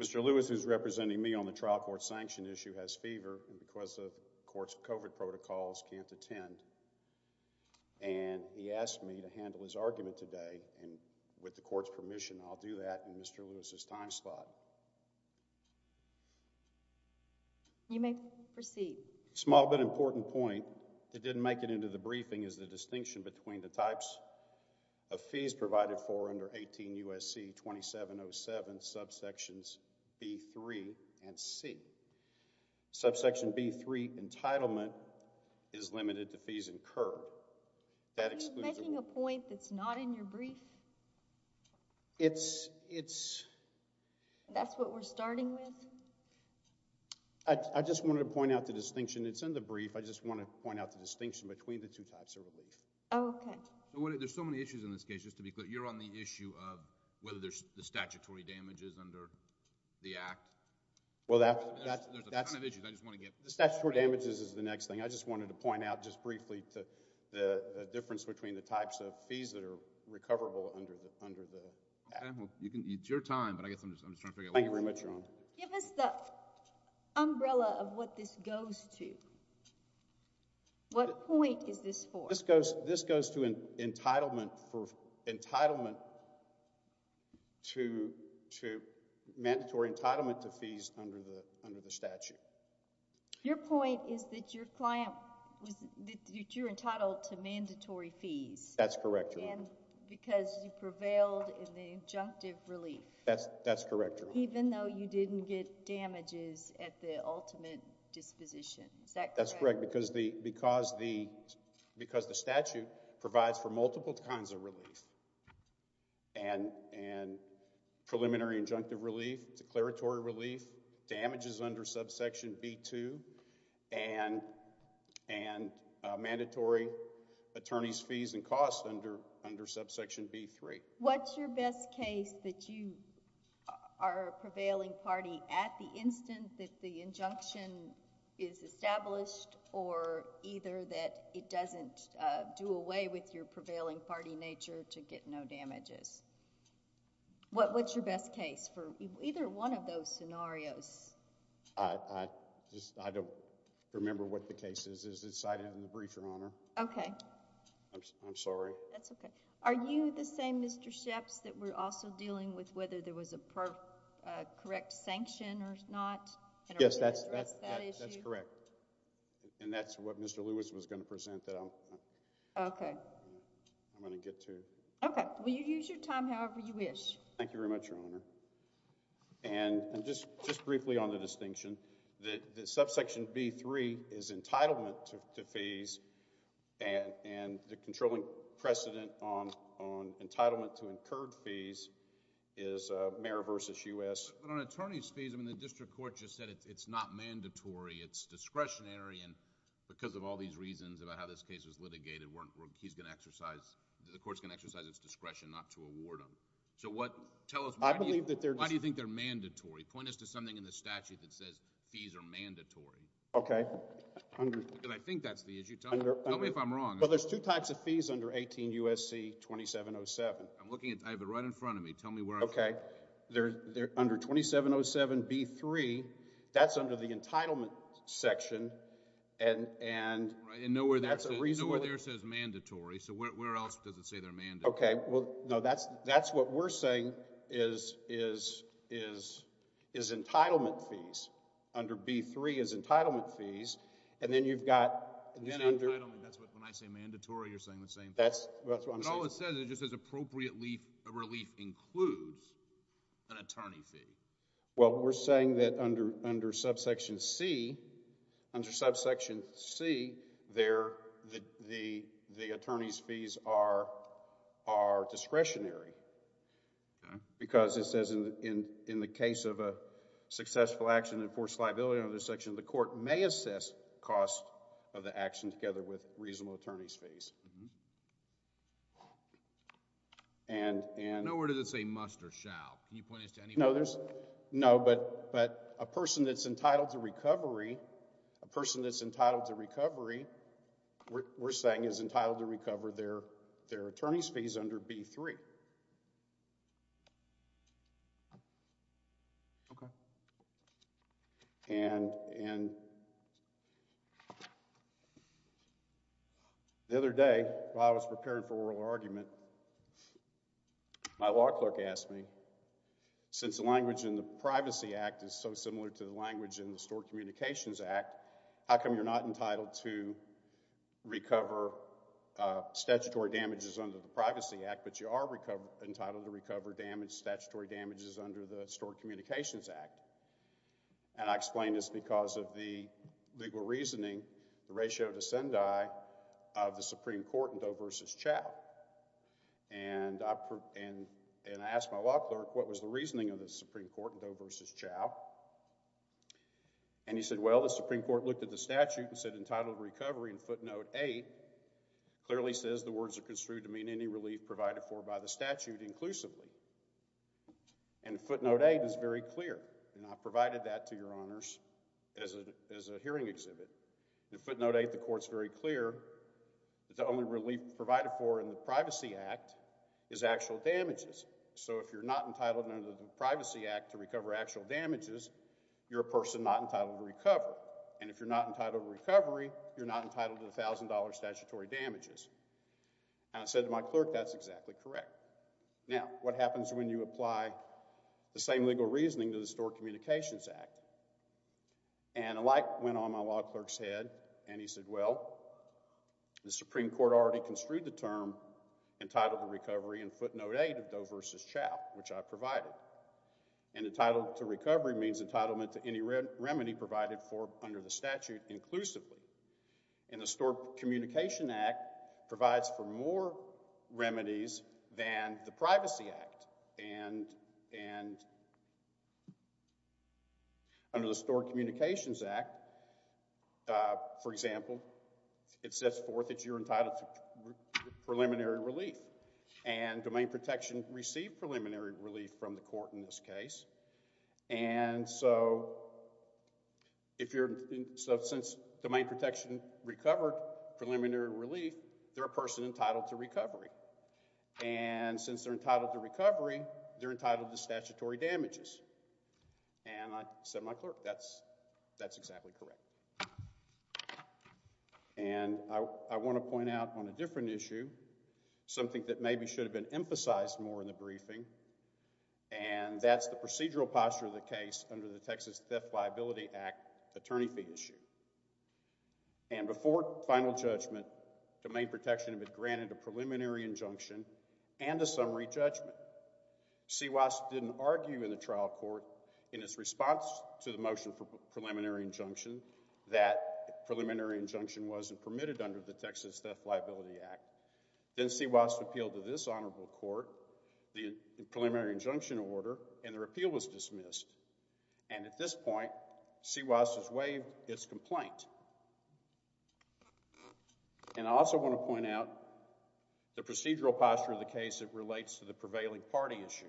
Mr. Lewis, who is representing me on the trial court sanction issue, has fever and because of course, COVID protocols can't attend. And he asked me to handle his argument today. And with the court's permission, I'll do that in Mr. Lewis's time slot. You may proceed small but important point that didn't make it into the briefing is the distinction between the types of fees free entitlement is limited to fees incurred. That is making a point that's not in your brief. It's it's that's what we're starting with. I just wanted to point out the distinction. It's in the brief. I just want to point out the distinction between the two types of relief. Okay, there's so many issues in this case. Just to be clear, you're on the issue of whether there's the statutory damages under the act. Well, that's that's the issue. I just want to get the statutory damages is the next thing I just wanted to point out just briefly to the difference between the types of fees that are recoverable under the under the you can eat your time. But I guess I'm just I'm just trying to thank you very much. Give us the umbrella of what this goes to. What point is this for? This goes this goes to an entitlement for entitlement to to mandatory entitlement to fees under the under the statute. Your point is that your client was that you're entitled to mandatory fees. That's correct. And because you prevailed in the injunctive relief. That's that's correct. Even though you didn't get damages at the ultimate disposition. That's correct. Because the because the because the statute provides for multiple kinds of relief and and preliminary injunctive relief declaratory relief damages under subsection B2 and and mandatory attorneys fees and costs under under subsection B3. What's your best case that you are prevailing party at the instant that the injunction is established or either that it doesn't do away with your prevailing party nature to get no damages. What what's your best case for either one of those scenarios? I just I don't remember what the case is. Is it you the same Mr. Sheps that we're also dealing with whether there was a correct sanction or not. Yes that's that's correct. And that's what Mr. Lewis was going to present that. OK. I'm going to get to it. OK. Well you use your time however you wish. Thank you very much your honor. And just just briefly on the distinction that the subsection B3 is entitlement to fees and the controlling precedent on entitlement to incurred fees is a mayor versus U.S. attorneys fees. I mean the district court just said it's not mandatory. It's discretionary. And because of all these reasons about how this case was litigated weren't he's going to exercise the courts can exercise its discretion not to award them. So what tell us I believe that there. Why do you think they're mandatory. Point us to something in the OK. I think that's the issue. Tell me if I'm wrong. Well there's two types of fees under 18 U.S.C. 2707. I'm looking at it right in front of me. Tell me where. OK. They're there under 2707 B3. That's under the entitlement section. And and you know where that's a reason where there says mandatory. So where else does it say they're man. OK. Well no that's that's what we're saying is is is is entitlement fees under B3 as entitlement fees. And then you've got an under. That's what I say mandatory. You're saying the same. That's what it says is just as appropriately a relief includes an under saying that under under subsection C under subsection C there the the the attorney's fees are are discretionary because it says in the case of a successful action enforced liability under the section of the court may assess cost of the action together with reasonable attorney's fees. And and nowhere does it say must or shall. Can you point us to any. No there's no. But but a person that's entitled to recovery a person that's entitled to recovery. OK. Well I was preparing for oral argument. My law clerk asked me since the language in the Privacy Act is so similar to the language in the Stored Communications Act. How come you're not entitled to recover statutory damages under the Privacy Act but you are recovered entitled to recover damage statutory damages under the Stored Communications Act. And I explain this because of the legal reasoning the ratio to send I of the Supreme Court in Doe versus Chow. And and and I asked my law clerk what was the reasoning of the Supreme Court in Doe versus Chow. And he said well the Supreme Court looked at the statute and said entitled recovery in footnote eight clearly says the words are construed to mean any relief provided for by the statute inclusively. And footnote eight is very clear. And I provided that to your honors as a as a hearing exhibit. The footnote eight the court's very clear that the only relief provided for in the Privacy Act is actual damages. So if you're not entitled under the Privacy Act to recover actual damages you're a person not entitled to recover. And if you're not entitled to recovery you're not entitled to a thousand dollar statutory damages. And I said to my clerk that's exactly correct. Now what happens when you apply the same legal reasoning to the Stored Communications Act. And a light went on my clerk's head and he said well the Supreme Court already construed the term entitled to recovery in footnote eight of Doe versus Chow which I provided. And entitled to recovery means entitlement to any remedy provided for under the statute inclusively. And the Stored Communication Act provides for for example it sets forth that you're entitled to preliminary relief and domain protection received preliminary relief from the court in this case. And so if you're in substance domain protection recovered preliminary relief they're a person entitled to recovery. And since they're entitled to recovery they're said my clerk that's that's exactly correct. And I want to point out on a different issue something that maybe should have been emphasized more in the briefing. And that's the procedural posture of the case under the Texas Theft Liability Act attorney fee issue. And before final judgment domain protection had been granted a preliminary injunction and a to the motion for preliminary injunction that preliminary injunction wasn't permitted under the Texas Theft Liability Act. Then CWAS appealed to this honorable court the preliminary injunction order and their appeal was dismissed. And at this point CWAS has waived its complaint. And I also want to point out the procedural posture of the case that relates to the prevailing party issue.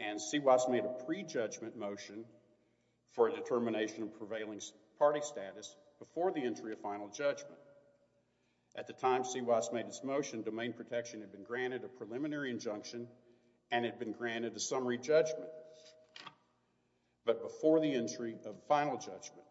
And CWAS made a pre-judgment motion for a determination of prevailing party status before the entry of final judgment. At the time CWAS made its motion domain protection had been granted a preliminary injunction and had been granted a summary judgment. But before the entry of final judgment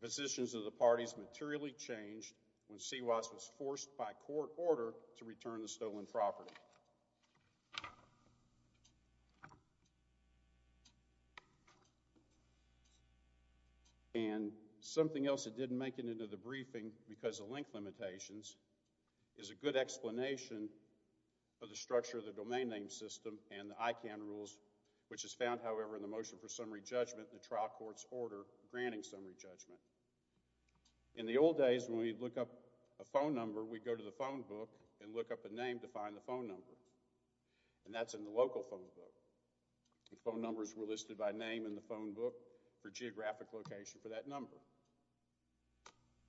the positions of the parties materially changed when CWAS was forced by court order to return the stolen property. And something else that didn't make it into the briefing because of length limitations is a good explanation for the structure of the domain name system and the ICANN rules which is found however in the motion for summary judgment in the trial court's order granting summary judgment. In the old days when we'd look up a phone number we'd go to the phone book and look up a name to find the phone number. And that's in the local phone book. The phone numbers were listed by name in the phone book for geographic location for that number.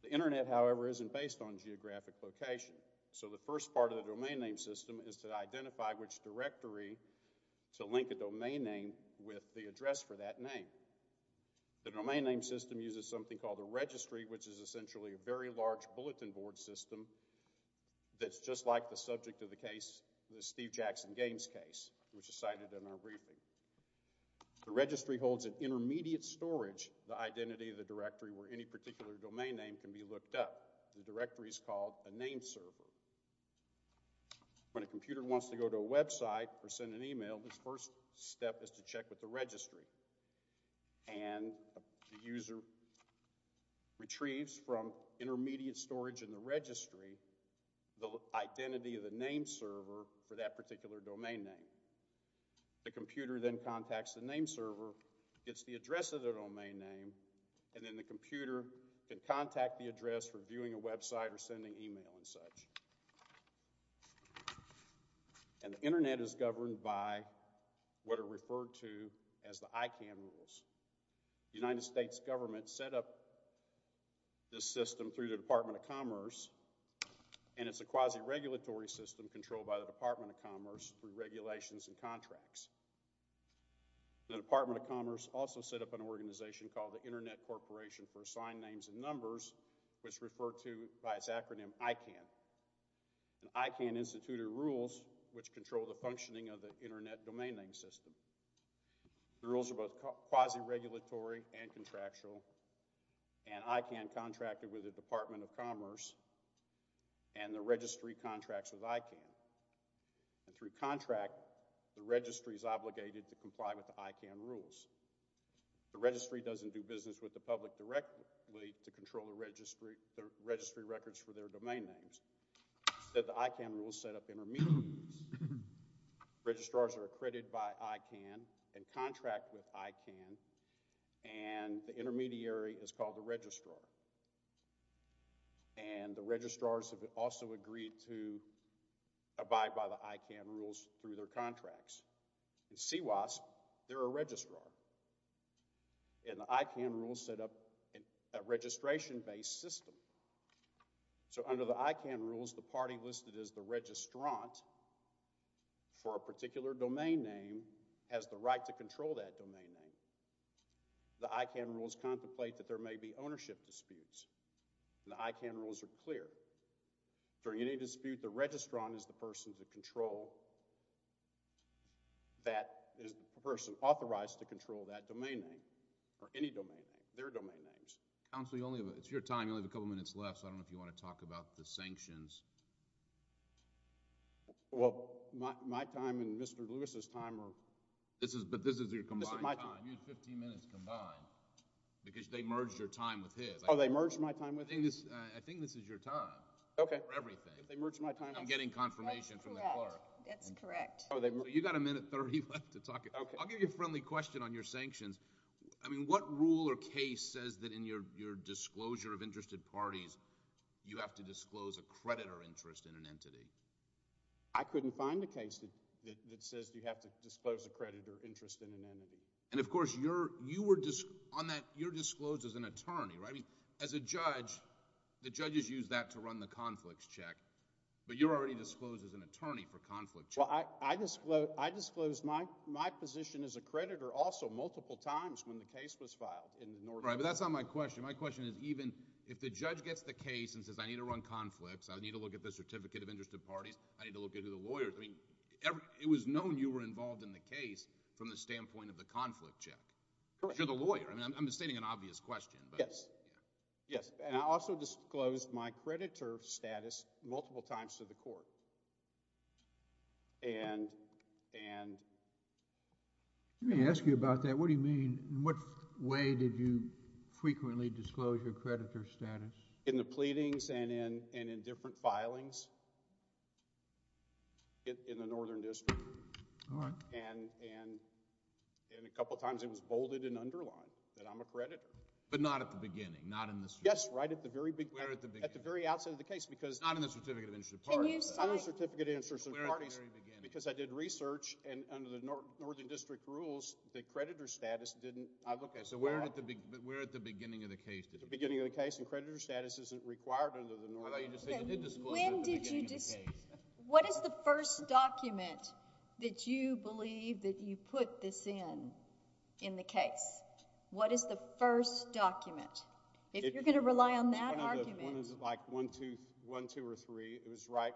The internet however isn't based on geographic location. So the first part of the domain name system is to identify which directory to link a domain name with the address for that name. The domain name system uses something called a registry which is essentially a very large bulletin board system that's just like the subject of the case, the Steve Jackson games case which is cited in our briefing. The registry holds an intermediate storage, the identity of the directory where any particular domain name can be looked up. The directory is called a name server. When a computer wants to go to a website or send an email, the first step is to check with the registry. And the user retrieves from intermediate storage in the registry the identity of the name server for that particular domain name. The computer can contact the address for viewing a website or sending email and such. And the internet is governed by what are referred to as the ICAM rules. The United States government set up this system through the Department of Commerce and it's a quasi-regulatory system controlled by the Department of Commerce and for assigned names and numbers which refer to by its acronym ICAM. And ICAM instituted rules which control the functioning of the internet domain name system. The rules are both quasi-regulatory and contractual and ICAM contracted with the Department of Commerce and the registry contracts with directly to control the registry records for their domain names. The ICAM rules set up intermediaries. Registrars are accredited by ICAM and contract with ICAM and the intermediary is called the registrar. And the registrars have also agreed to abide by the ICAM rules through their contracts. In CWAS, they're a registrar. And the ICAM rules set up a registration-based system. So under the ICAM rules, the party listed as the registrant for a particular domain name has the right to control that domain name. The ICAM rules contemplate that there may be ownership disputes and the ICAM rules are clear. During any dispute, the registrant is the person to control that domain name, their domain names. Counsel, it's your time. You only have a couple minutes left, so I don't know if you want to talk about the sanctions. Well, my time and Mr. Lewis's time are… But this is your combined time. You have 15 minutes combined because they merged your time with his. Oh, they merged my time with his? I think this is your time for everything. Okay. They merged my time with his. I'm getting confirmation from the clerk. That's correct. That's correct. So you've got a minute 30 left to talk. I'll give you a friendly question on your sanctions. I mean, what rule or case says that in your disclosure of interested parties, you have to disclose a creditor interest in an entity? I couldn't find a case that says you have to disclose a creditor interest in an entity. And of course, you're disclosed as an attorney, right? I mean, as a judge, the judges use that to run the conflicts check, but you're already disclosed as an attorney for conflict checks. Well, I disclosed my position as a creditor also multiple times when the case was filed. Right, but that's not my question. My question is even if the judge gets the case and says I need to run conflicts, I need to look at the certificate of interested parties, I need to look into the lawyers. I mean, it was known you were involved in the case from the standpoint of the conflict check. Correct. Because you're the lawyer. I mean, I'm stating an obvious question. Yes, and I also disclosed my creditor status multiple times to the court. Let me ask you about that. What do you mean? In what way did you frequently disclose your creditor status? In the pleadings and in different filings in the Northern District. All right. And a couple times it was bolded and underlined that I'm a creditor. But not at the beginning, not in the... Yes, right at the very big... Where at the beginning? At the very outset of the case because... Not in the certificate of interested parties, but... Not in the certificate of interested parties because I did research and under the Northern District rules, the creditor status didn't... Okay, so where at the beginning of the case did you... At the beginning of the case and creditor status isn't required under the Northern... I thought you just said you did disclose it at the beginning of the case. What is the first document that you believe that you put this in, in the case? What is the first document? If you're going to rely on that argument... One is like one, two or three. It was right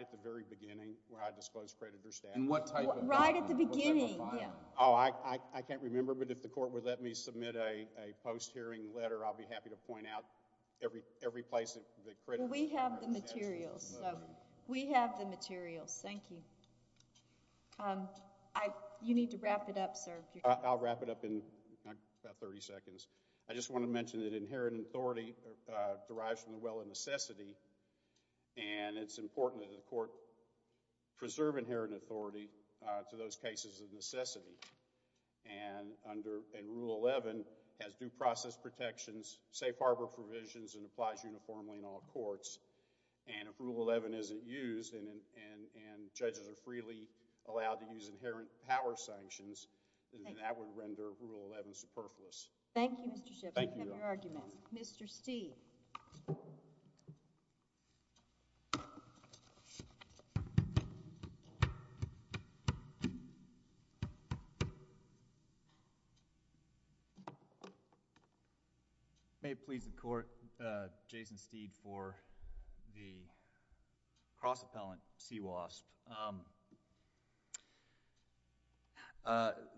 at the very beginning where I disclosed creditor status. In what type of filing? Right at the beginning. What type of filing? Oh, I can't remember, but if the court would let me submit a post-hearing letter, I'll be happy to point out every place that the creditor status... So, we have the materials. We have the materials. Thank you. You need to wrap it up, sir. I'll wrap it up in about 30 seconds. I just want to mention that inherent authority derives from the well of necessity and it's important that the court preserve inherent authority to those cases of necessity. And, under Rule 11, it has due process protections, safe harbor provisions and applies uniformly in all courts. And, if Rule 11 isn't used and judges are freely allowed to use inherent power sanctions, then that would render Rule 11 superfluous. Thank you, Mr. Shipp. Thank you. Mr. Steeve. May it please the court, Jason Steeve for the cross-appellant CWASP.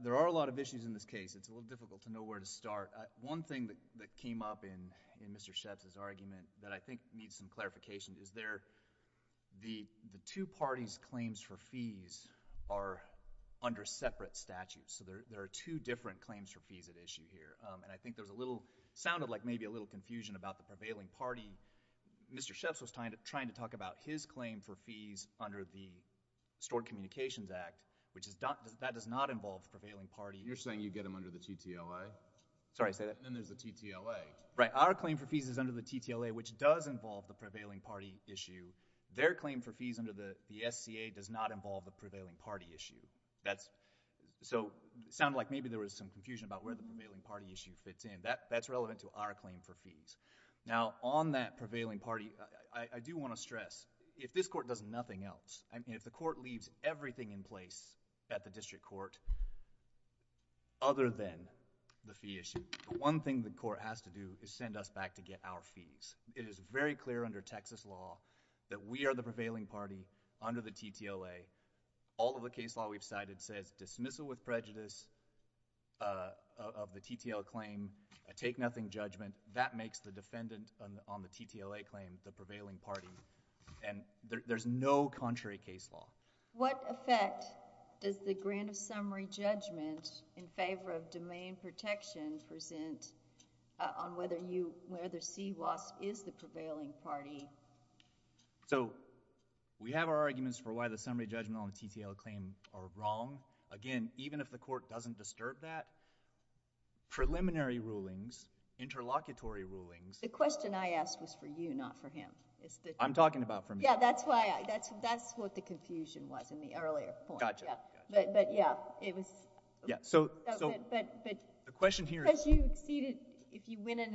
There are a lot of issues in this case. It's a little difficult to know where to start. One thing that came up in Mr. Shipp's argument that I think needs some clarification is the two parties' claims for fees are under separate statutes. So, there are two different claims for fees at issue here. And, I think there's a little... it sounded like maybe a little confusion about the prevailing party. Mr. Shipp was trying to talk about his claim for fees under the Stored Communications Act, which is... that does not involve the prevailing party. You're saying you get them under the TTOI? Sorry, say that again. Then, there's the TTOI. Right. Our claim for fees is under the TTOI, which does involve the prevailing party issue. Their claim for fees under the SCA does not involve the prevailing party issue. So, it sounded like maybe there was some confusion about where the prevailing party issue fits in. That's relevant to our claim for fees. Now, on that prevailing party, I do want to stress, if this court does nothing else, I mean, if the court leaves everything in place at the district court, other than the fee issue, the one thing the court has to do is send us back to get our fees. It is very clear under Texas law that we are the prevailing party under the TTOI. All of the case law we've cited says dismissal with prejudice of the TTOI claim, a take-nothing judgment. That makes the defendant on the TTOI claim the prevailing party. There's no contrary case law. What effect does the grant of summary judgment in favor of domain protection present on whether CWAS is the prevailing party? So, we have our arguments for why the summary judgment on the TTOI claim are wrong. Again, even if the court doesn't disturb that, preliminary rulings, interlocutory rulings— The question I asked was for you, not for him. I'm talking about for me. Yeah, that's why—that's what the confusion was in the earlier point. Gotcha, gotcha. But, yeah, it was— Yeah, so— But— The question here is— Because you exceeded—if you win it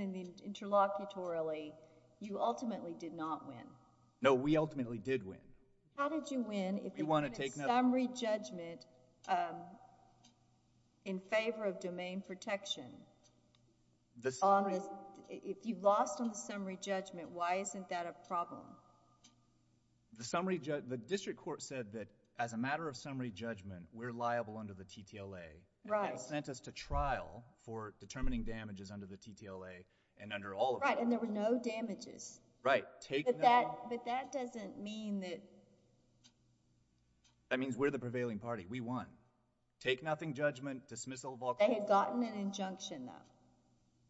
interlocutorily, you ultimately did not win. No, we ultimately did win. How did you win if you— We want to take another— If you lost on the summary judgment, why isn't that a problem? The summary—the district court said that as a matter of summary judgment, we're liable under the TTOI. Right. And they sent us to trial for determining damages under the TTOI and under all of them. Right, and there were no damages. Right. But that doesn't mean that— That means we're the prevailing party. We won. Take-nothing judgment, dismissal of all— They had gotten an injunction, though.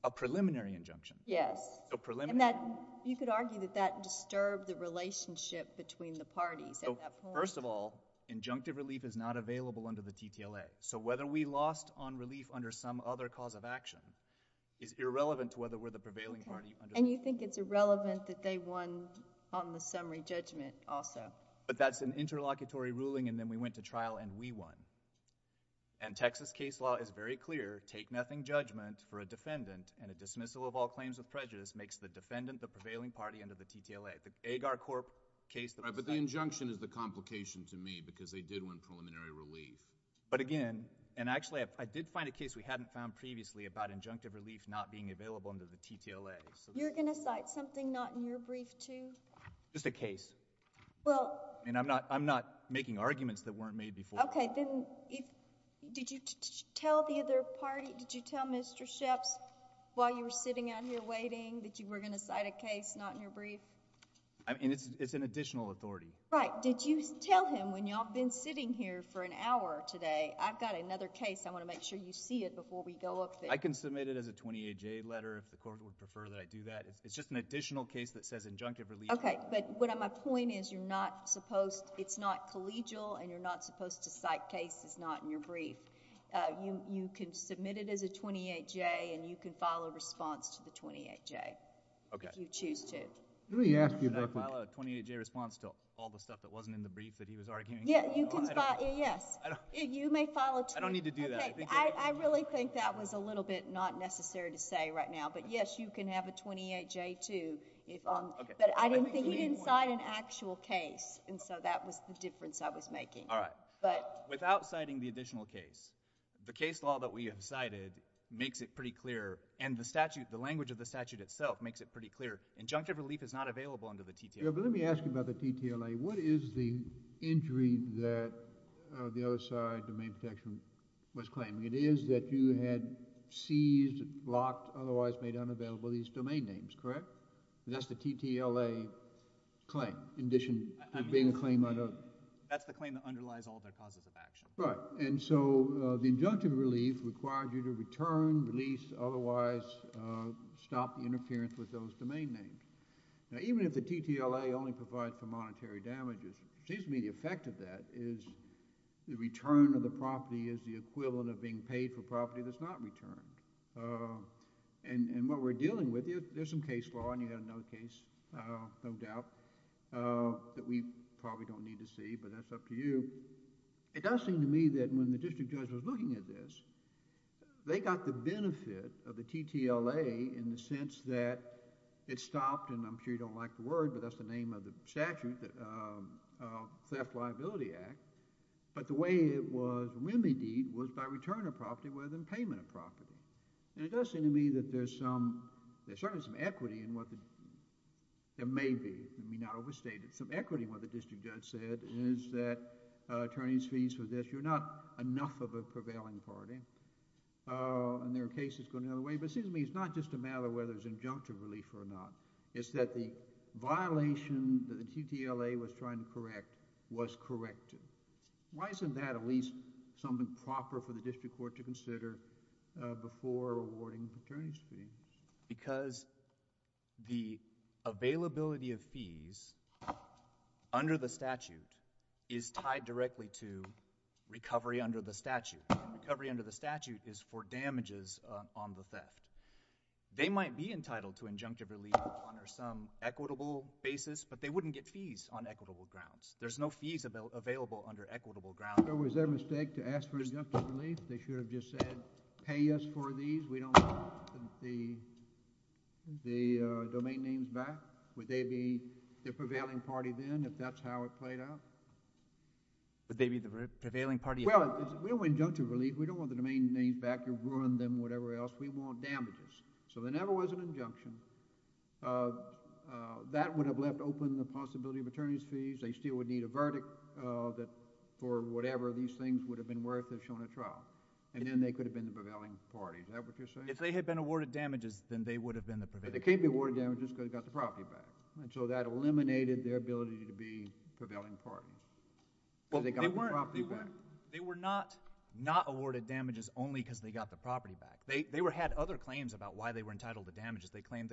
A preliminary injunction. Yes. So preliminary— And that—you could argue that that disturbed the relationship between the parties at that point. So, first of all, injunctive relief is not available under the TTLA. So whether we lost on relief under some other cause of action is irrelevant to whether we're the prevailing party. And you think it's irrelevant that they won on the summary judgment also. But that's an interlocutory ruling, and then we went to trial, and we won. And Texas case law is very clear. Take-nothing judgment for a defendant and a dismissal of all claims of prejudice makes the defendant the prevailing party under the TTLA. The Agar Corp case— Right, but the injunction is the complication to me because they did win preliminary relief. But again—and actually, I did find a case we hadn't found previously about injunctive relief not being available under the TTLA. You're going to cite something not in your brief, too? Just a case. Well— I mean, I'm not making arguments that weren't made before. Okay. Then did you tell the other party—did you tell Mr. Sheps while you were sitting out here waiting that you were going to cite a case not in your brief? I mean, it's an additional authority. Right. Did you tell him, when y'all have been sitting here for an hour today, I've got another case. I want to make sure you see it before we go up there. I can submit it as a 28-J letter if the court would prefer that I do that. It's just an additional case that says injunctive relief— Okay. But my point is you're not supposed—it's not collegial, and you're not supposed to cite cases not in your brief. You can submit it as a 28-J, and you can file a response to the 28-J— Okay. —if you choose to. Let me ask you— Should I file a 28-J response to all the stuff that wasn't in the brief that he was arguing? Yes. You may file a— I don't need to do that. Okay. I really think that was a little bit not necessary to say right now. But yes, you can have a 28-J, too. Okay. But I didn't think—he didn't cite an actual case, and so that was the difference I was making. All right. But— Without citing the additional case, the case law that we have cited makes it pretty clear, and the statute—the language of the statute itself makes it pretty clear. Injunctive relief is not available under the TTLA. Yeah, but let me ask you about the TTLA. What is the injury that the other side, domain protection, was claiming? It is that you had seized, blocked, otherwise made unavailable these domain names, correct? That's the TTLA claim in addition to being a claim under— That's the claim that underlies all of their causes of action. Right. And so the injunctive relief required you to return, release, otherwise stop the interference with those domain names. Now, even if the TTLA only provides for monetary damages, it seems to me the effect of that is the return of the property is the equivalent of being paid for property that's not returned. And what we're dealing with, there's some case law, and you have another case, no doubt, that we probably don't need to see, but that's up to you. It does seem to me that when the district judge was looking at this, they got the benefit of the TTLA in the sense that it stopped, and I'm sure you don't like the word, but that's the name of the statute, the Theft Liability Act. But the way it was remedied was by return of property rather than payment of property. And it does seem to me that there's some, there's certainly some equity in what the, there may be, let me not overstate it, some equity in what the district judge said, and it is that attorneys' fees for this, you're not enough of a prevailing party, and there are cases going the other way, but it seems to me it's not just a matter of whether there's injunctive relief or not. It's that the violation that the TTLA was trying to correct was corrected. Why isn't that at least something proper for the district court to consider before awarding attorneys' fees? Because the availability of fees under the statute is tied directly to recovery under the statute. Recovery under the statute is for damages on the theft. They might be entitled to injunctive relief on some equitable basis, but they wouldn't get fees on equitable grounds. There's no fees available under equitable grounds. So was there a mistake to ask for injunctive relief? They should have just said pay us for these. We don't want the domain names back. Would they be the prevailing party then if that's how it played out? Would they be the prevailing party? Well, we don't want injunctive relief. We don't want the domain names back. You're ruining them, whatever else. We want damages. So there never was an injunction. That would have left open the possibility of attorneys' fees. They still would need a verdict for whatever these things would have been worth if shown at trial. And then they could have been the prevailing party. Is that what you're saying? If they had been awarded damages, then they would have been the prevailing party. But they can't be awarded damages because they got the property back. And so that eliminated their ability to be prevailing parties because they got the property back. They were not awarded damages only because they got the property back. They had other claims about why they were entitled to damages. They claimed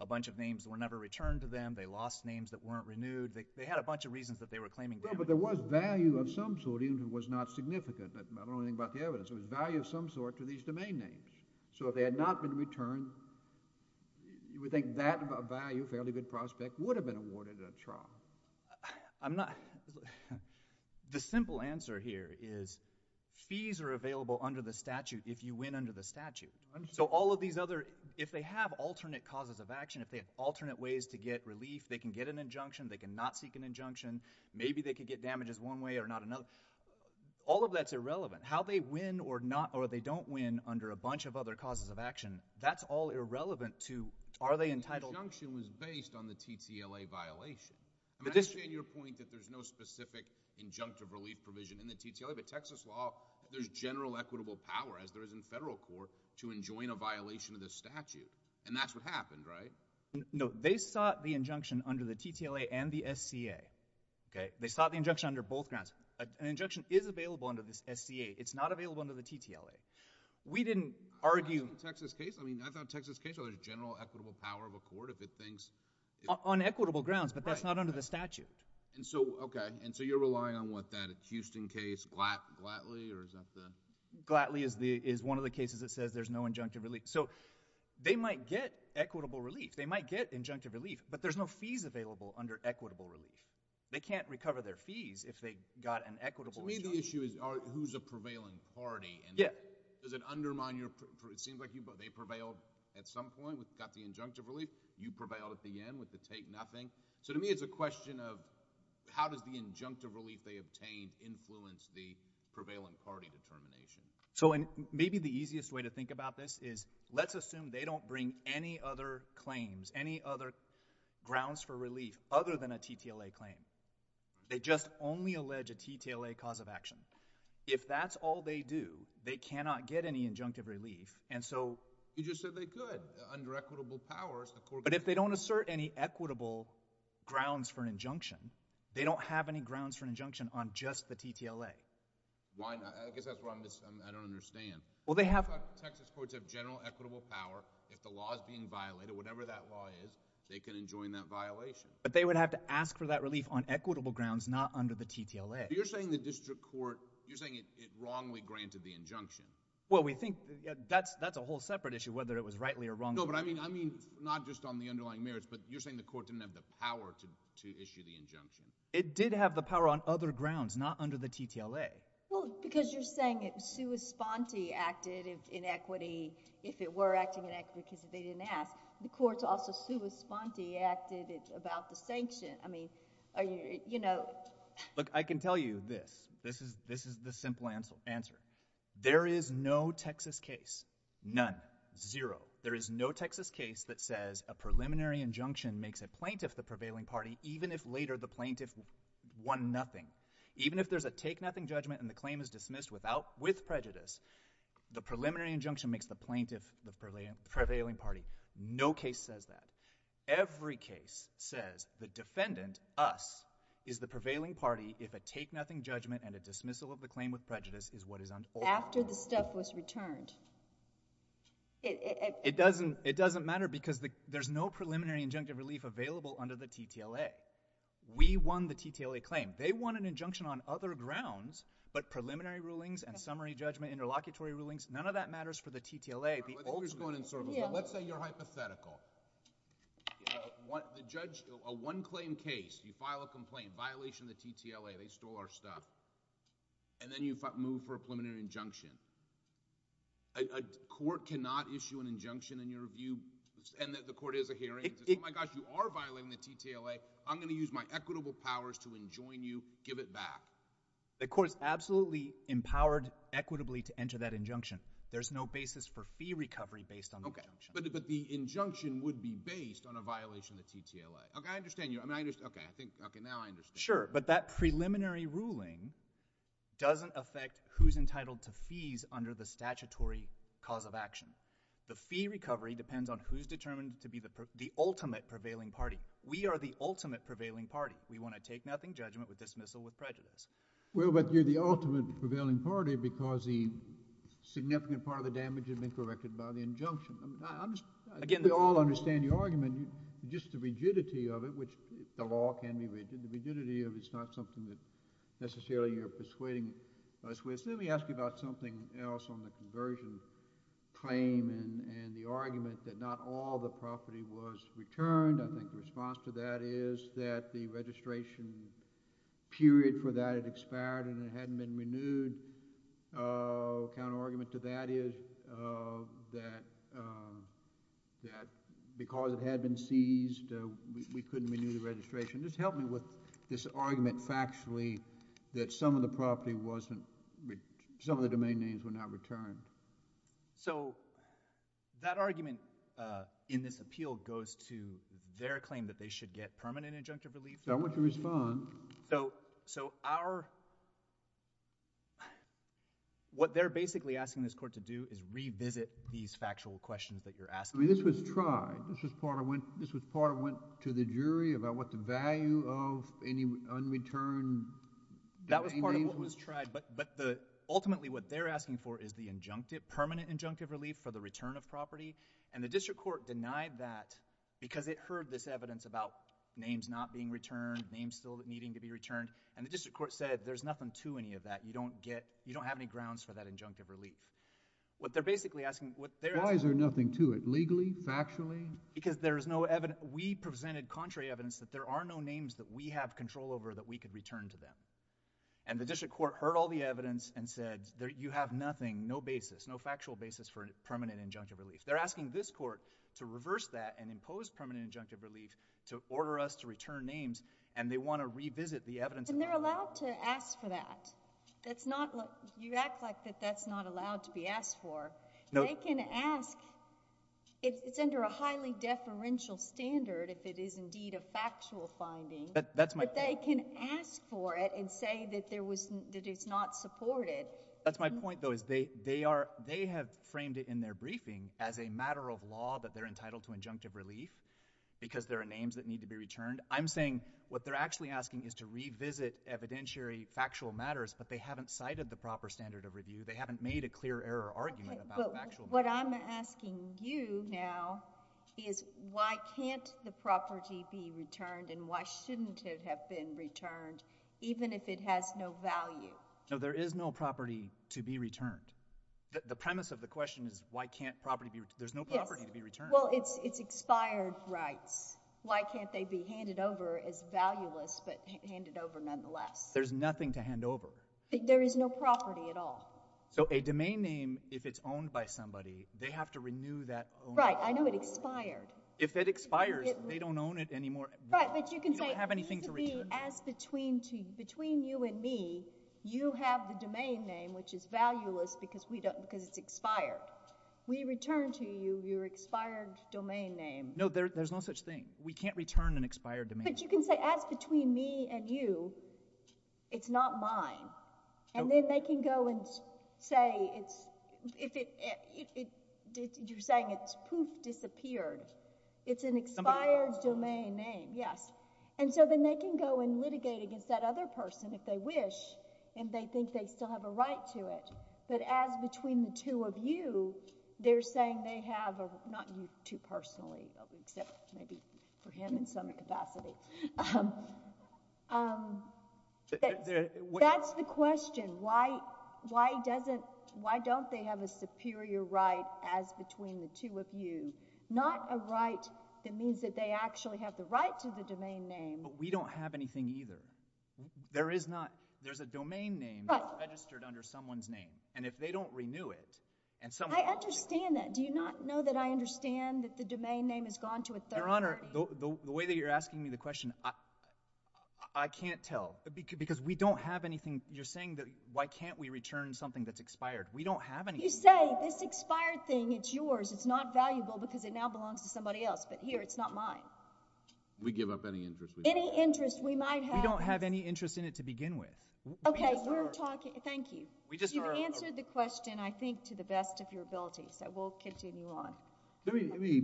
a bunch of names were never returned to them. They lost names that weren't renewed. They had a bunch of reasons that they were claiming damages. But there was value of some sort even if it was not significant. I don't know anything about the evidence. There was value of some sort to these domain names. So if they had not been returned, you would think that value, a fairly good prospect, would have been awarded at trial. I'm not – the simple answer here is fees are available under the statute if you win under the statute. So all of these other – if they have alternate causes of action, if they have alternate ways to get relief, they can get an injunction. They can not seek an injunction. Maybe they could get damages one way or not another. All of that is irrelevant. How they win or they don't win under a bunch of other causes of action, that's all irrelevant to are they entitled – I understand your point that there's no specific injunctive relief provision in the TTLA. But Texas law, there's general equitable power, as there is in federal court, to enjoin a violation of the statute. And that's what happened, right? No, they sought the injunction under the TTLA and the SCA. They sought the injunction under both grounds. An injunction is available under the SCA. It's not available under the TTLA. We didn't argue – I thought in the Texas case – I mean I thought in the Texas case there was general equitable power of a court if it thinks – On equitable grounds, but that's not under the statute. And so – okay. And so you're relying on what, that Houston case, Glatley, or is that the – Glatley is one of the cases that says there's no injunctive relief. So they might get equitable relief. They might get injunctive relief, but there's no fees available under equitable relief. They can't recover their fees if they got an equitable injunction. To me the issue is who's a prevailing party. Yeah. Does it undermine your – it seems like they prevailed at some point, got the injunctive relief. You prevailed at the end with the take nothing. So to me it's a question of how does the injunctive relief they obtained influence the prevailing party determination. So maybe the easiest way to think about this is let's assume they don't bring any other claims, any other grounds for relief other than a TTLA claim. They just only allege a TTLA cause of action. If that's all they do, they cannot get any injunctive relief. And so – You just said they could. But if they don't assert any equitable grounds for an injunction, they don't have any grounds for an injunction on just the TTLA. I guess that's what I'm – I don't understand. Well, they have – Texas courts have general equitable power. If the law is being violated, whatever that law is, they can enjoin that violation. But they would have to ask for that relief on equitable grounds, not under the TTLA. You're saying the district court – you're saying it wrongly granted the injunction. Well, we think – that's a whole separate issue whether it was rightly or wrongly granted. No, but I mean not just on the underlying merits, but you're saying the court didn't have the power to issue the injunction. It did have the power on other grounds, not under the TTLA. Well, because you're saying it – Sue Esponti acted in equity if it were acting in equity because they didn't ask. The courts also – Sue Esponti acted about the sanction. I mean, you know – Look, I can tell you this. This is the simple answer. There is no Texas case, none, zero. There is no Texas case that says a preliminary injunction makes a plaintiff the prevailing party even if later the plaintiff won nothing. Even if there's a take-nothing judgment and the claim is dismissed without – with prejudice, the preliminary injunction makes the plaintiff the prevailing party. No case says that. Every case says the defendant, us, is the prevailing party if a take-nothing judgment and a dismissal of the claim with prejudice is what is – After the stuff was returned. It doesn't matter because there's no preliminary injunctive relief available under the TTLA. We won the TTLA claim. They won an injunction on other grounds, but preliminary rulings and summary judgment, interlocutory rulings, none of that matters for the TTLA. Let's say you're hypothetical. The judge – a one-claim case. You file a complaint, violation of the TTLA. They stole our stuff. And then you move for a preliminary injunction. A court cannot issue an injunction in your view, and the court is a hearing. It says, oh my gosh, you are violating the TTLA. I'm going to use my equitable powers to enjoin you. Give it back. The court is absolutely empowered equitably to enter that injunction. There's no basis for fee recovery based on the injunction. But the injunction would be based on a violation of the TTLA. Okay, I understand you. Okay, now I understand. Sure, but that preliminary ruling doesn't affect who's entitled to fees under the statutory cause of action. The fee recovery depends on who's determined to be the ultimate prevailing party. We are the ultimate prevailing party. We want to take nothing judgment with dismissal with prejudice. Well, but you're the ultimate prevailing party because a significant part of the damage has been corrected by the injunction. We all understand your argument. Just the rigidity of it, which the law can be rigid, the rigidity of it is not something that necessarily you're persuading us with. Let me ask you about something else on the conversion claim and the argument that not all the property was returned. I think the response to that is that the registration period for that had expired and it hadn't been renewed. The counterargument to that is that because it had been seized, we couldn't renew the registration. Just help me with this argument factually that some of the domain names were not returned. So that argument in this appeal goes to their claim that they should get permanent injunctive relief. I want you to respond. So what they're basically asking this court to do is revisit these factual questions that you're asking. This was tried. This was part of what went to the jury about what the value of any unreturned domain names was. That was part of what was tried, but ultimately what they're asking for is the permanent injunctive relief for the return of property. And the district court denied that because it heard this evidence about names not being returned, names still needing to be returned, and the district court said there's nothing to any of that. You don't have any grounds for that injunctive relief. Why is there nothing to it legally, factually? Because we presented contrary evidence that there are no names that we have control over that we could return to them. And the district court heard all the evidence and said, you have nothing, no factual basis for permanent injunctive relief. They're asking this court to reverse that and impose permanent injunctive relief to order us to return names, and they want to revisit the evidence. And they're allowed to ask for that. You act like that's not allowed to be asked for. They can ask. It's under a highly deferential standard if it is indeed a factual finding. That's my point. But they can ask for it and say that it's not supported. That's my point, though, is they have framed it in their briefing as a matter of law that they're entitled to injunctive relief because there are names that need to be returned. I'm saying what they're actually asking is to revisit evidentiary factual matters, but they haven't cited the proper standard of review. They haven't made a clear error argument about factual matters. But what I'm asking you now is why can't the property be returned and why shouldn't it have been returned even if it has no value? No, there is no property to be returned. The premise of the question is why can't property be returned. There's no property to be returned. Well, it's expired rights. Why can't they be handed over as valueless but handed over nonetheless? There's nothing to hand over. There is no property at all. So a domain name, if it's owned by somebody, they have to renew that ownership. Right, I know it expired. If it expires, they don't own it anymore. Right, but you can say it used to be as between you and me, you have the domain name, which is valueless because it's expired. We return to you your expired domain name. No, there's no such thing. We can't return an expired domain name. But you can say as between me and you, it's not mine. And then they can go and say it's, you're saying it's poof, disappeared. It's an expired domain name, yes. And so then they can go and litigate against that other person if they wish and they think they still have a right to it. But as between the two of you, they're saying they have a, not you two personally, except maybe for him in some capacity. That's the question. Why don't they have a superior right as between the two of you? Not a right that means that they actually have the right to the domain name. But we don't have anything either. There is not. There's a domain name that's registered under someone's name. And if they don't renew it, and someone will take it. I understand that. Do you not know that I understand that the domain name has gone to a third party? Your Honor, the way that you're asking me the question, I can't tell. Because we don't have anything. You're saying that why can't we return something that's expired. We don't have anything. You say this expired thing, it's yours. It's not valuable because it now belongs to somebody else. But here, it's not mine. We give up any interest we might have. We don't have any interest in it to begin with. Okay, we're talking. Thank you. You've answered the question, I think, to the best of your ability. So we'll continue on. Let me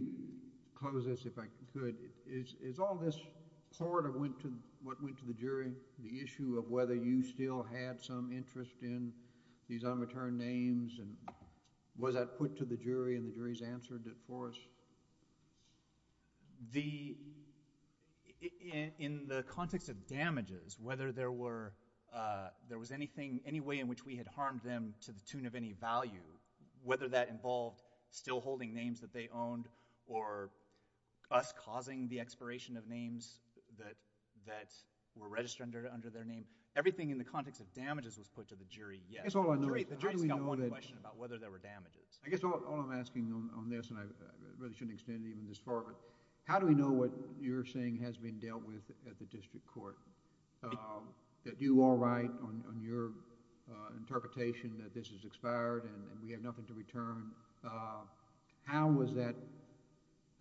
close this, if I could. Is all this part of what went to the jury, the issue of whether you still had some interest in these unreturned names, and was that put to the jury, and the jury's answered it for us? In the context of damages, whether there was any way in which we had harmed them to the tune of any value, whether that involved still holding names that they owned or us causing the expiration of names that were registered under their name, everything in the context of damages was put to the jury, yes. The jury's got one question about whether there were damages. I guess all I'm asking on this, and I really shouldn't extend it even this far, but how do we know what you're saying has been dealt with at the district court? Did you all write on your interpretation that this is expired and we have nothing to return? How was that...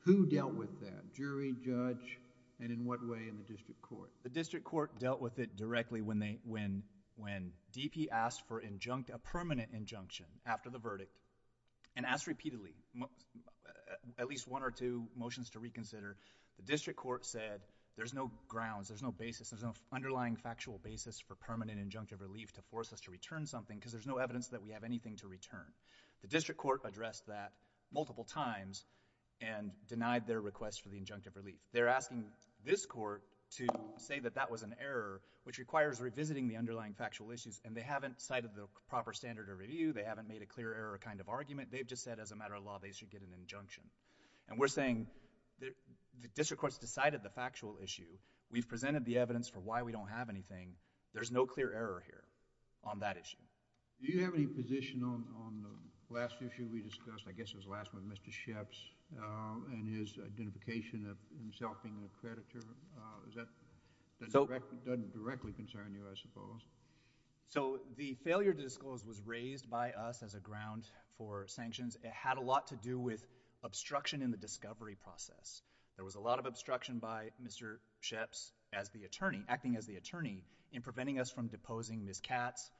who dealt with that? Jury, judge, and in what way in the district court? The district court dealt with it directly when DP asked for a permanent injunction after the verdict and asked repeatedly at least one or two motions to reconsider. The district court said there's no grounds, there's no basis, there's no underlying factual basis for permanent injunctive relief to force us to return something because there's no evidence that we have anything to return. The district court addressed that multiple times and denied their request for the injunctive relief. They're asking this court to say that that was an error, which requires revisiting the underlying factual issues, and they haven't cited the proper standard of review. They haven't made a clear error kind of argument. They've just said as a matter of law they should get an injunction. And we're saying the district court's decided the factual issue. We've presented the evidence for why we don't have anything. There's no clear error here on that issue. Do you have any position on the last issue we discussed? I guess it was the last one, Mr. Sheps and his identification of himself being an accreditor. That doesn't directly concern you, I suppose. So the failure to disclose was raised by us as a ground for sanctions. It had a lot to do with obstruction in the discovery process. There was a lot of obstruction by Mr. Sheps acting as the attorney in preventing us from deposing Ms. Katz.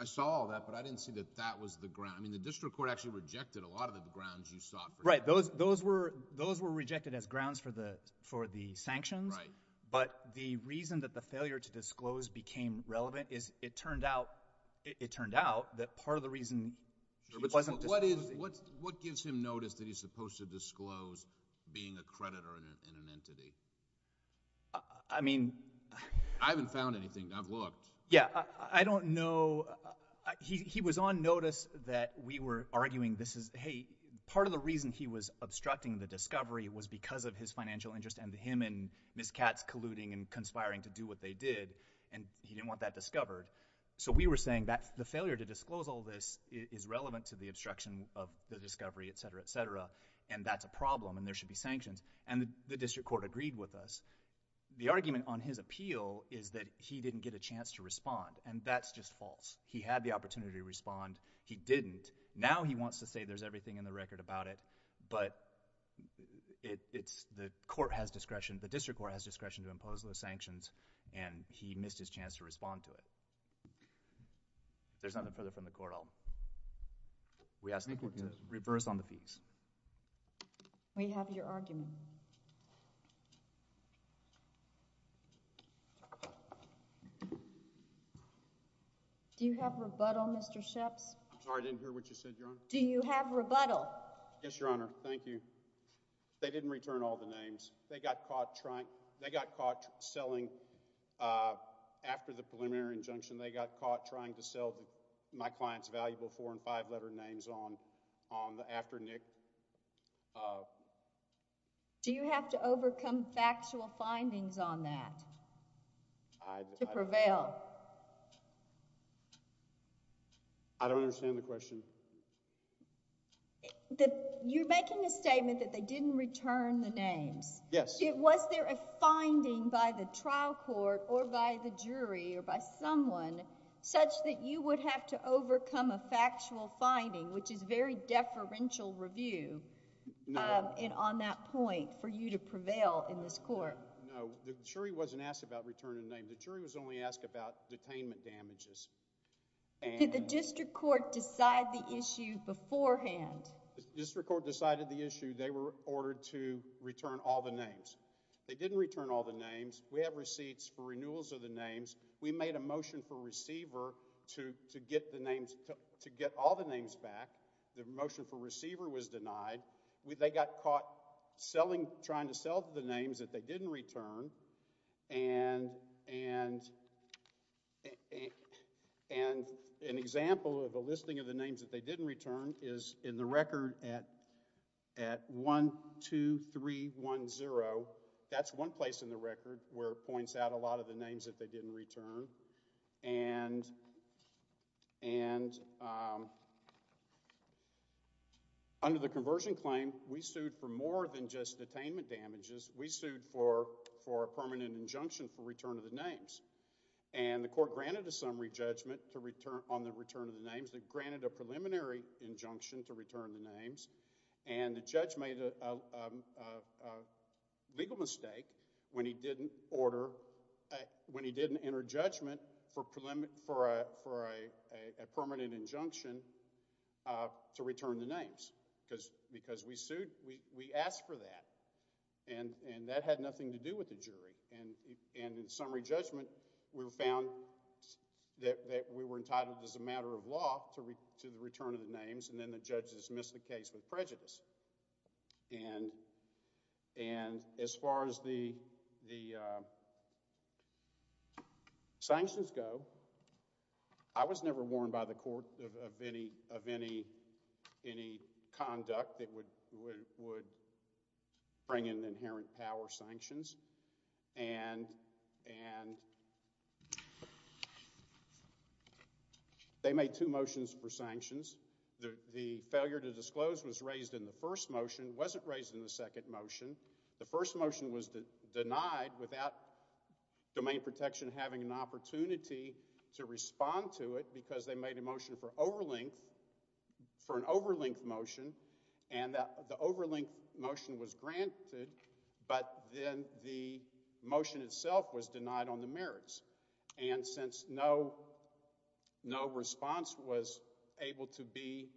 I saw all that, but I didn't see that that was the ground. I mean the district court actually rejected a lot of the grounds you sought. Right. Those were rejected as grounds for the sanctions. Right. But the reason that the failure to disclose became relevant is it turned out that part of the reason she wasn't disclosing— What gives him notice that he's supposed to disclose being a creditor in an entity? I mean— I haven't found anything. I've looked. Yeah. I don't know. He was on notice that we were arguing this is— Hey, part of the reason he was obstructing the discovery was because of his financial interest and him and Ms. Katz colluding and conspiring to do what they did, and he didn't want that discovered. So we were saying that the failure to disclose all this is relevant to the obstruction of the discovery, etc., etc., and that's a problem and there should be sanctions, and the district court agreed with us. The argument on his appeal is that he didn't get a chance to respond, and that's just false. He had the opportunity to respond. He didn't. Now he wants to say there's everything in the record about it, but it's the court has discretion— the district court has discretion to impose those sanctions, and he missed his chance to respond to it. If there's nothing further from the court, I'll— We ask the court to reverse on the fees. We have your argument. Thank you. Do you have rebuttal, Mr. Sheps? I'm sorry, I didn't hear what you said, Your Honor. Do you have rebuttal? Yes, Your Honor. Thank you. They didn't return all the names. They got caught trying—they got caught selling after the preliminary injunction. They got caught trying to sell my client's valuable four- and five-letter names after Nick— Do you have to overcome factual findings on that to prevail? I don't understand the question. You're making a statement that they didn't return the names. Yes. Was there a finding by the trial court or by the jury or by someone such that you would have to overcome a factual finding, which is very deferential review on that point for you to prevail in this court? No, the jury wasn't asked about returning the names. The jury was only asked about detainment damages. Did the district court decide the issue beforehand? The district court decided the issue. They were ordered to return all the names. They didn't return all the names. We have receipts for renewals of the names. We made a motion for receiver to get the names—to get all the names back. The motion for receiver was denied. They got caught selling—trying to sell the names that they didn't return. And an example of a listing of the names that they didn't return is in the record at 12310. That's one place in the record where it points out a lot of the names that they didn't return. And under the conversion claim, we sued for more than just detainment damages. We sued for a permanent injunction for return of the names. And the court granted a summary judgment on the return of the names. It granted a preliminary injunction to return the names. And the judge made a legal mistake when he didn't order—when he didn't enter judgment for a permanent injunction to return the names. Because we sued—we asked for that. And that had nothing to do with the jury. And in summary judgment, we found that we were entitled as a matter of law to the return of the names. And then the judges missed the case with prejudice. And as far as the sanctions go, I was never warned by the court of any conduct that would bring in inherent power sanctions. And they made two motions for sanctions. The failure to disclose was raised in the first motion, wasn't raised in the second motion. The first motion was denied without domain protection having an opportunity to respond to it because they made a motion for an overlength motion. And the overlength motion was granted. But then the motion itself was denied on the merits. And since no response was able to be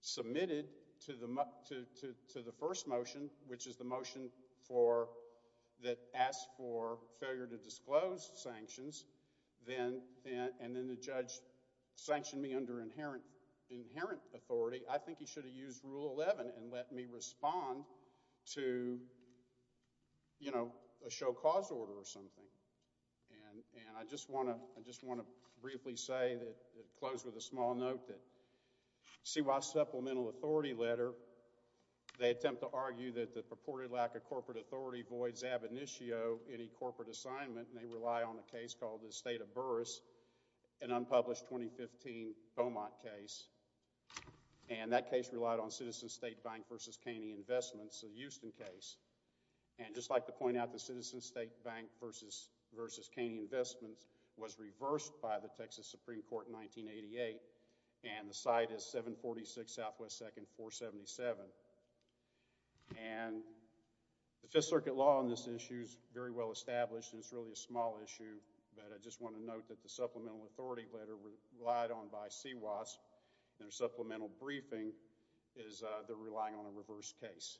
submitted to the first motion, which is the motion that asked for failure to disclose sanctions, and then the judge sanctioned me under inherent authority, I think he should have used Rule 11 and let me respond to, you know, a show cause order or something. And I just want to briefly say that—close with a small note that CY Supplemental Authority letter, they attempt to argue that the purported lack of corporate authority voids ab initio any corporate assignment. And they rely on a case called the State of Burris, an unpublished 2015 Beaumont case. And that case relied on Citizen State Bank v. Caney Investments, a Houston case. And I'd just like to point out that Citizen State Bank v. Caney Investments was reversed by the Texas Supreme Court in 1988. And the site is 746 Southwest 2nd, 477. And the Fifth Circuit law on this issue is very well established, and it's really a small issue. But I just want to note that the Supplemental Authority letter relied on by CWAS and their supplemental briefing is they're relying on a reverse case.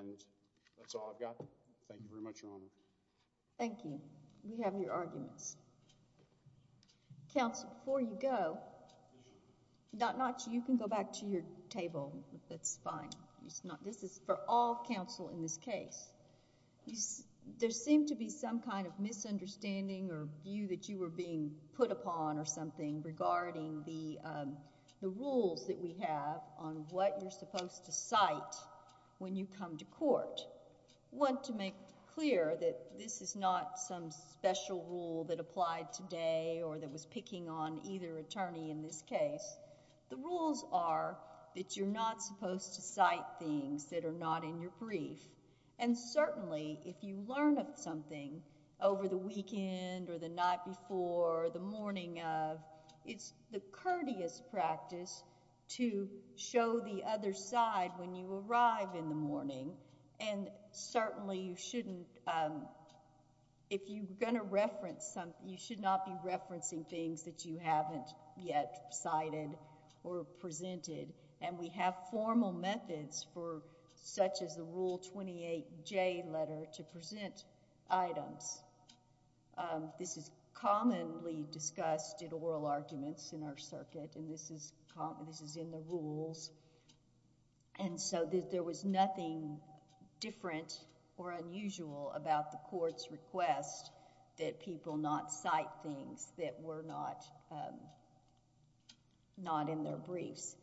And that's all I've got. Thank you very much, Your Honor. Thank you. We have your arguments. Counsel, before you go, you can go back to your table. That's fine. This is for all counsel in this case. There seemed to be some kind of misunderstanding or view that you were being put upon or something regarding the rules that we have on what you're supposed to cite when you come to court. I just want to make clear that this is not some special rule that applied today or that was picking on either attorney in this case. The rules are that you're not supposed to cite things that are not in your brief. And certainly, if you learn something over the weekend or the night before or the morning of, it's the courteous practice to show the other side when you arrive in the morning. And certainly, you shouldn't. If you're going to reference something, you should not be referencing things that you haven't yet cited or presented. And we have formal methods for such as the Rule 28J letter to present items. This is commonly discussed in oral arguments in our circuit, and this is in the rules. And so, there was nothing different or unusual about the court's request that people not cite things that were not in their briefs.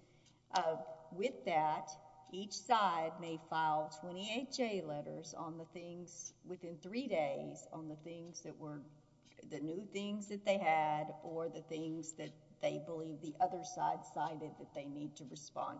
With that, each side may file 28J letters within three days on the new things that they had or the things that they believe the other side cited that they need to respond to. Thank you.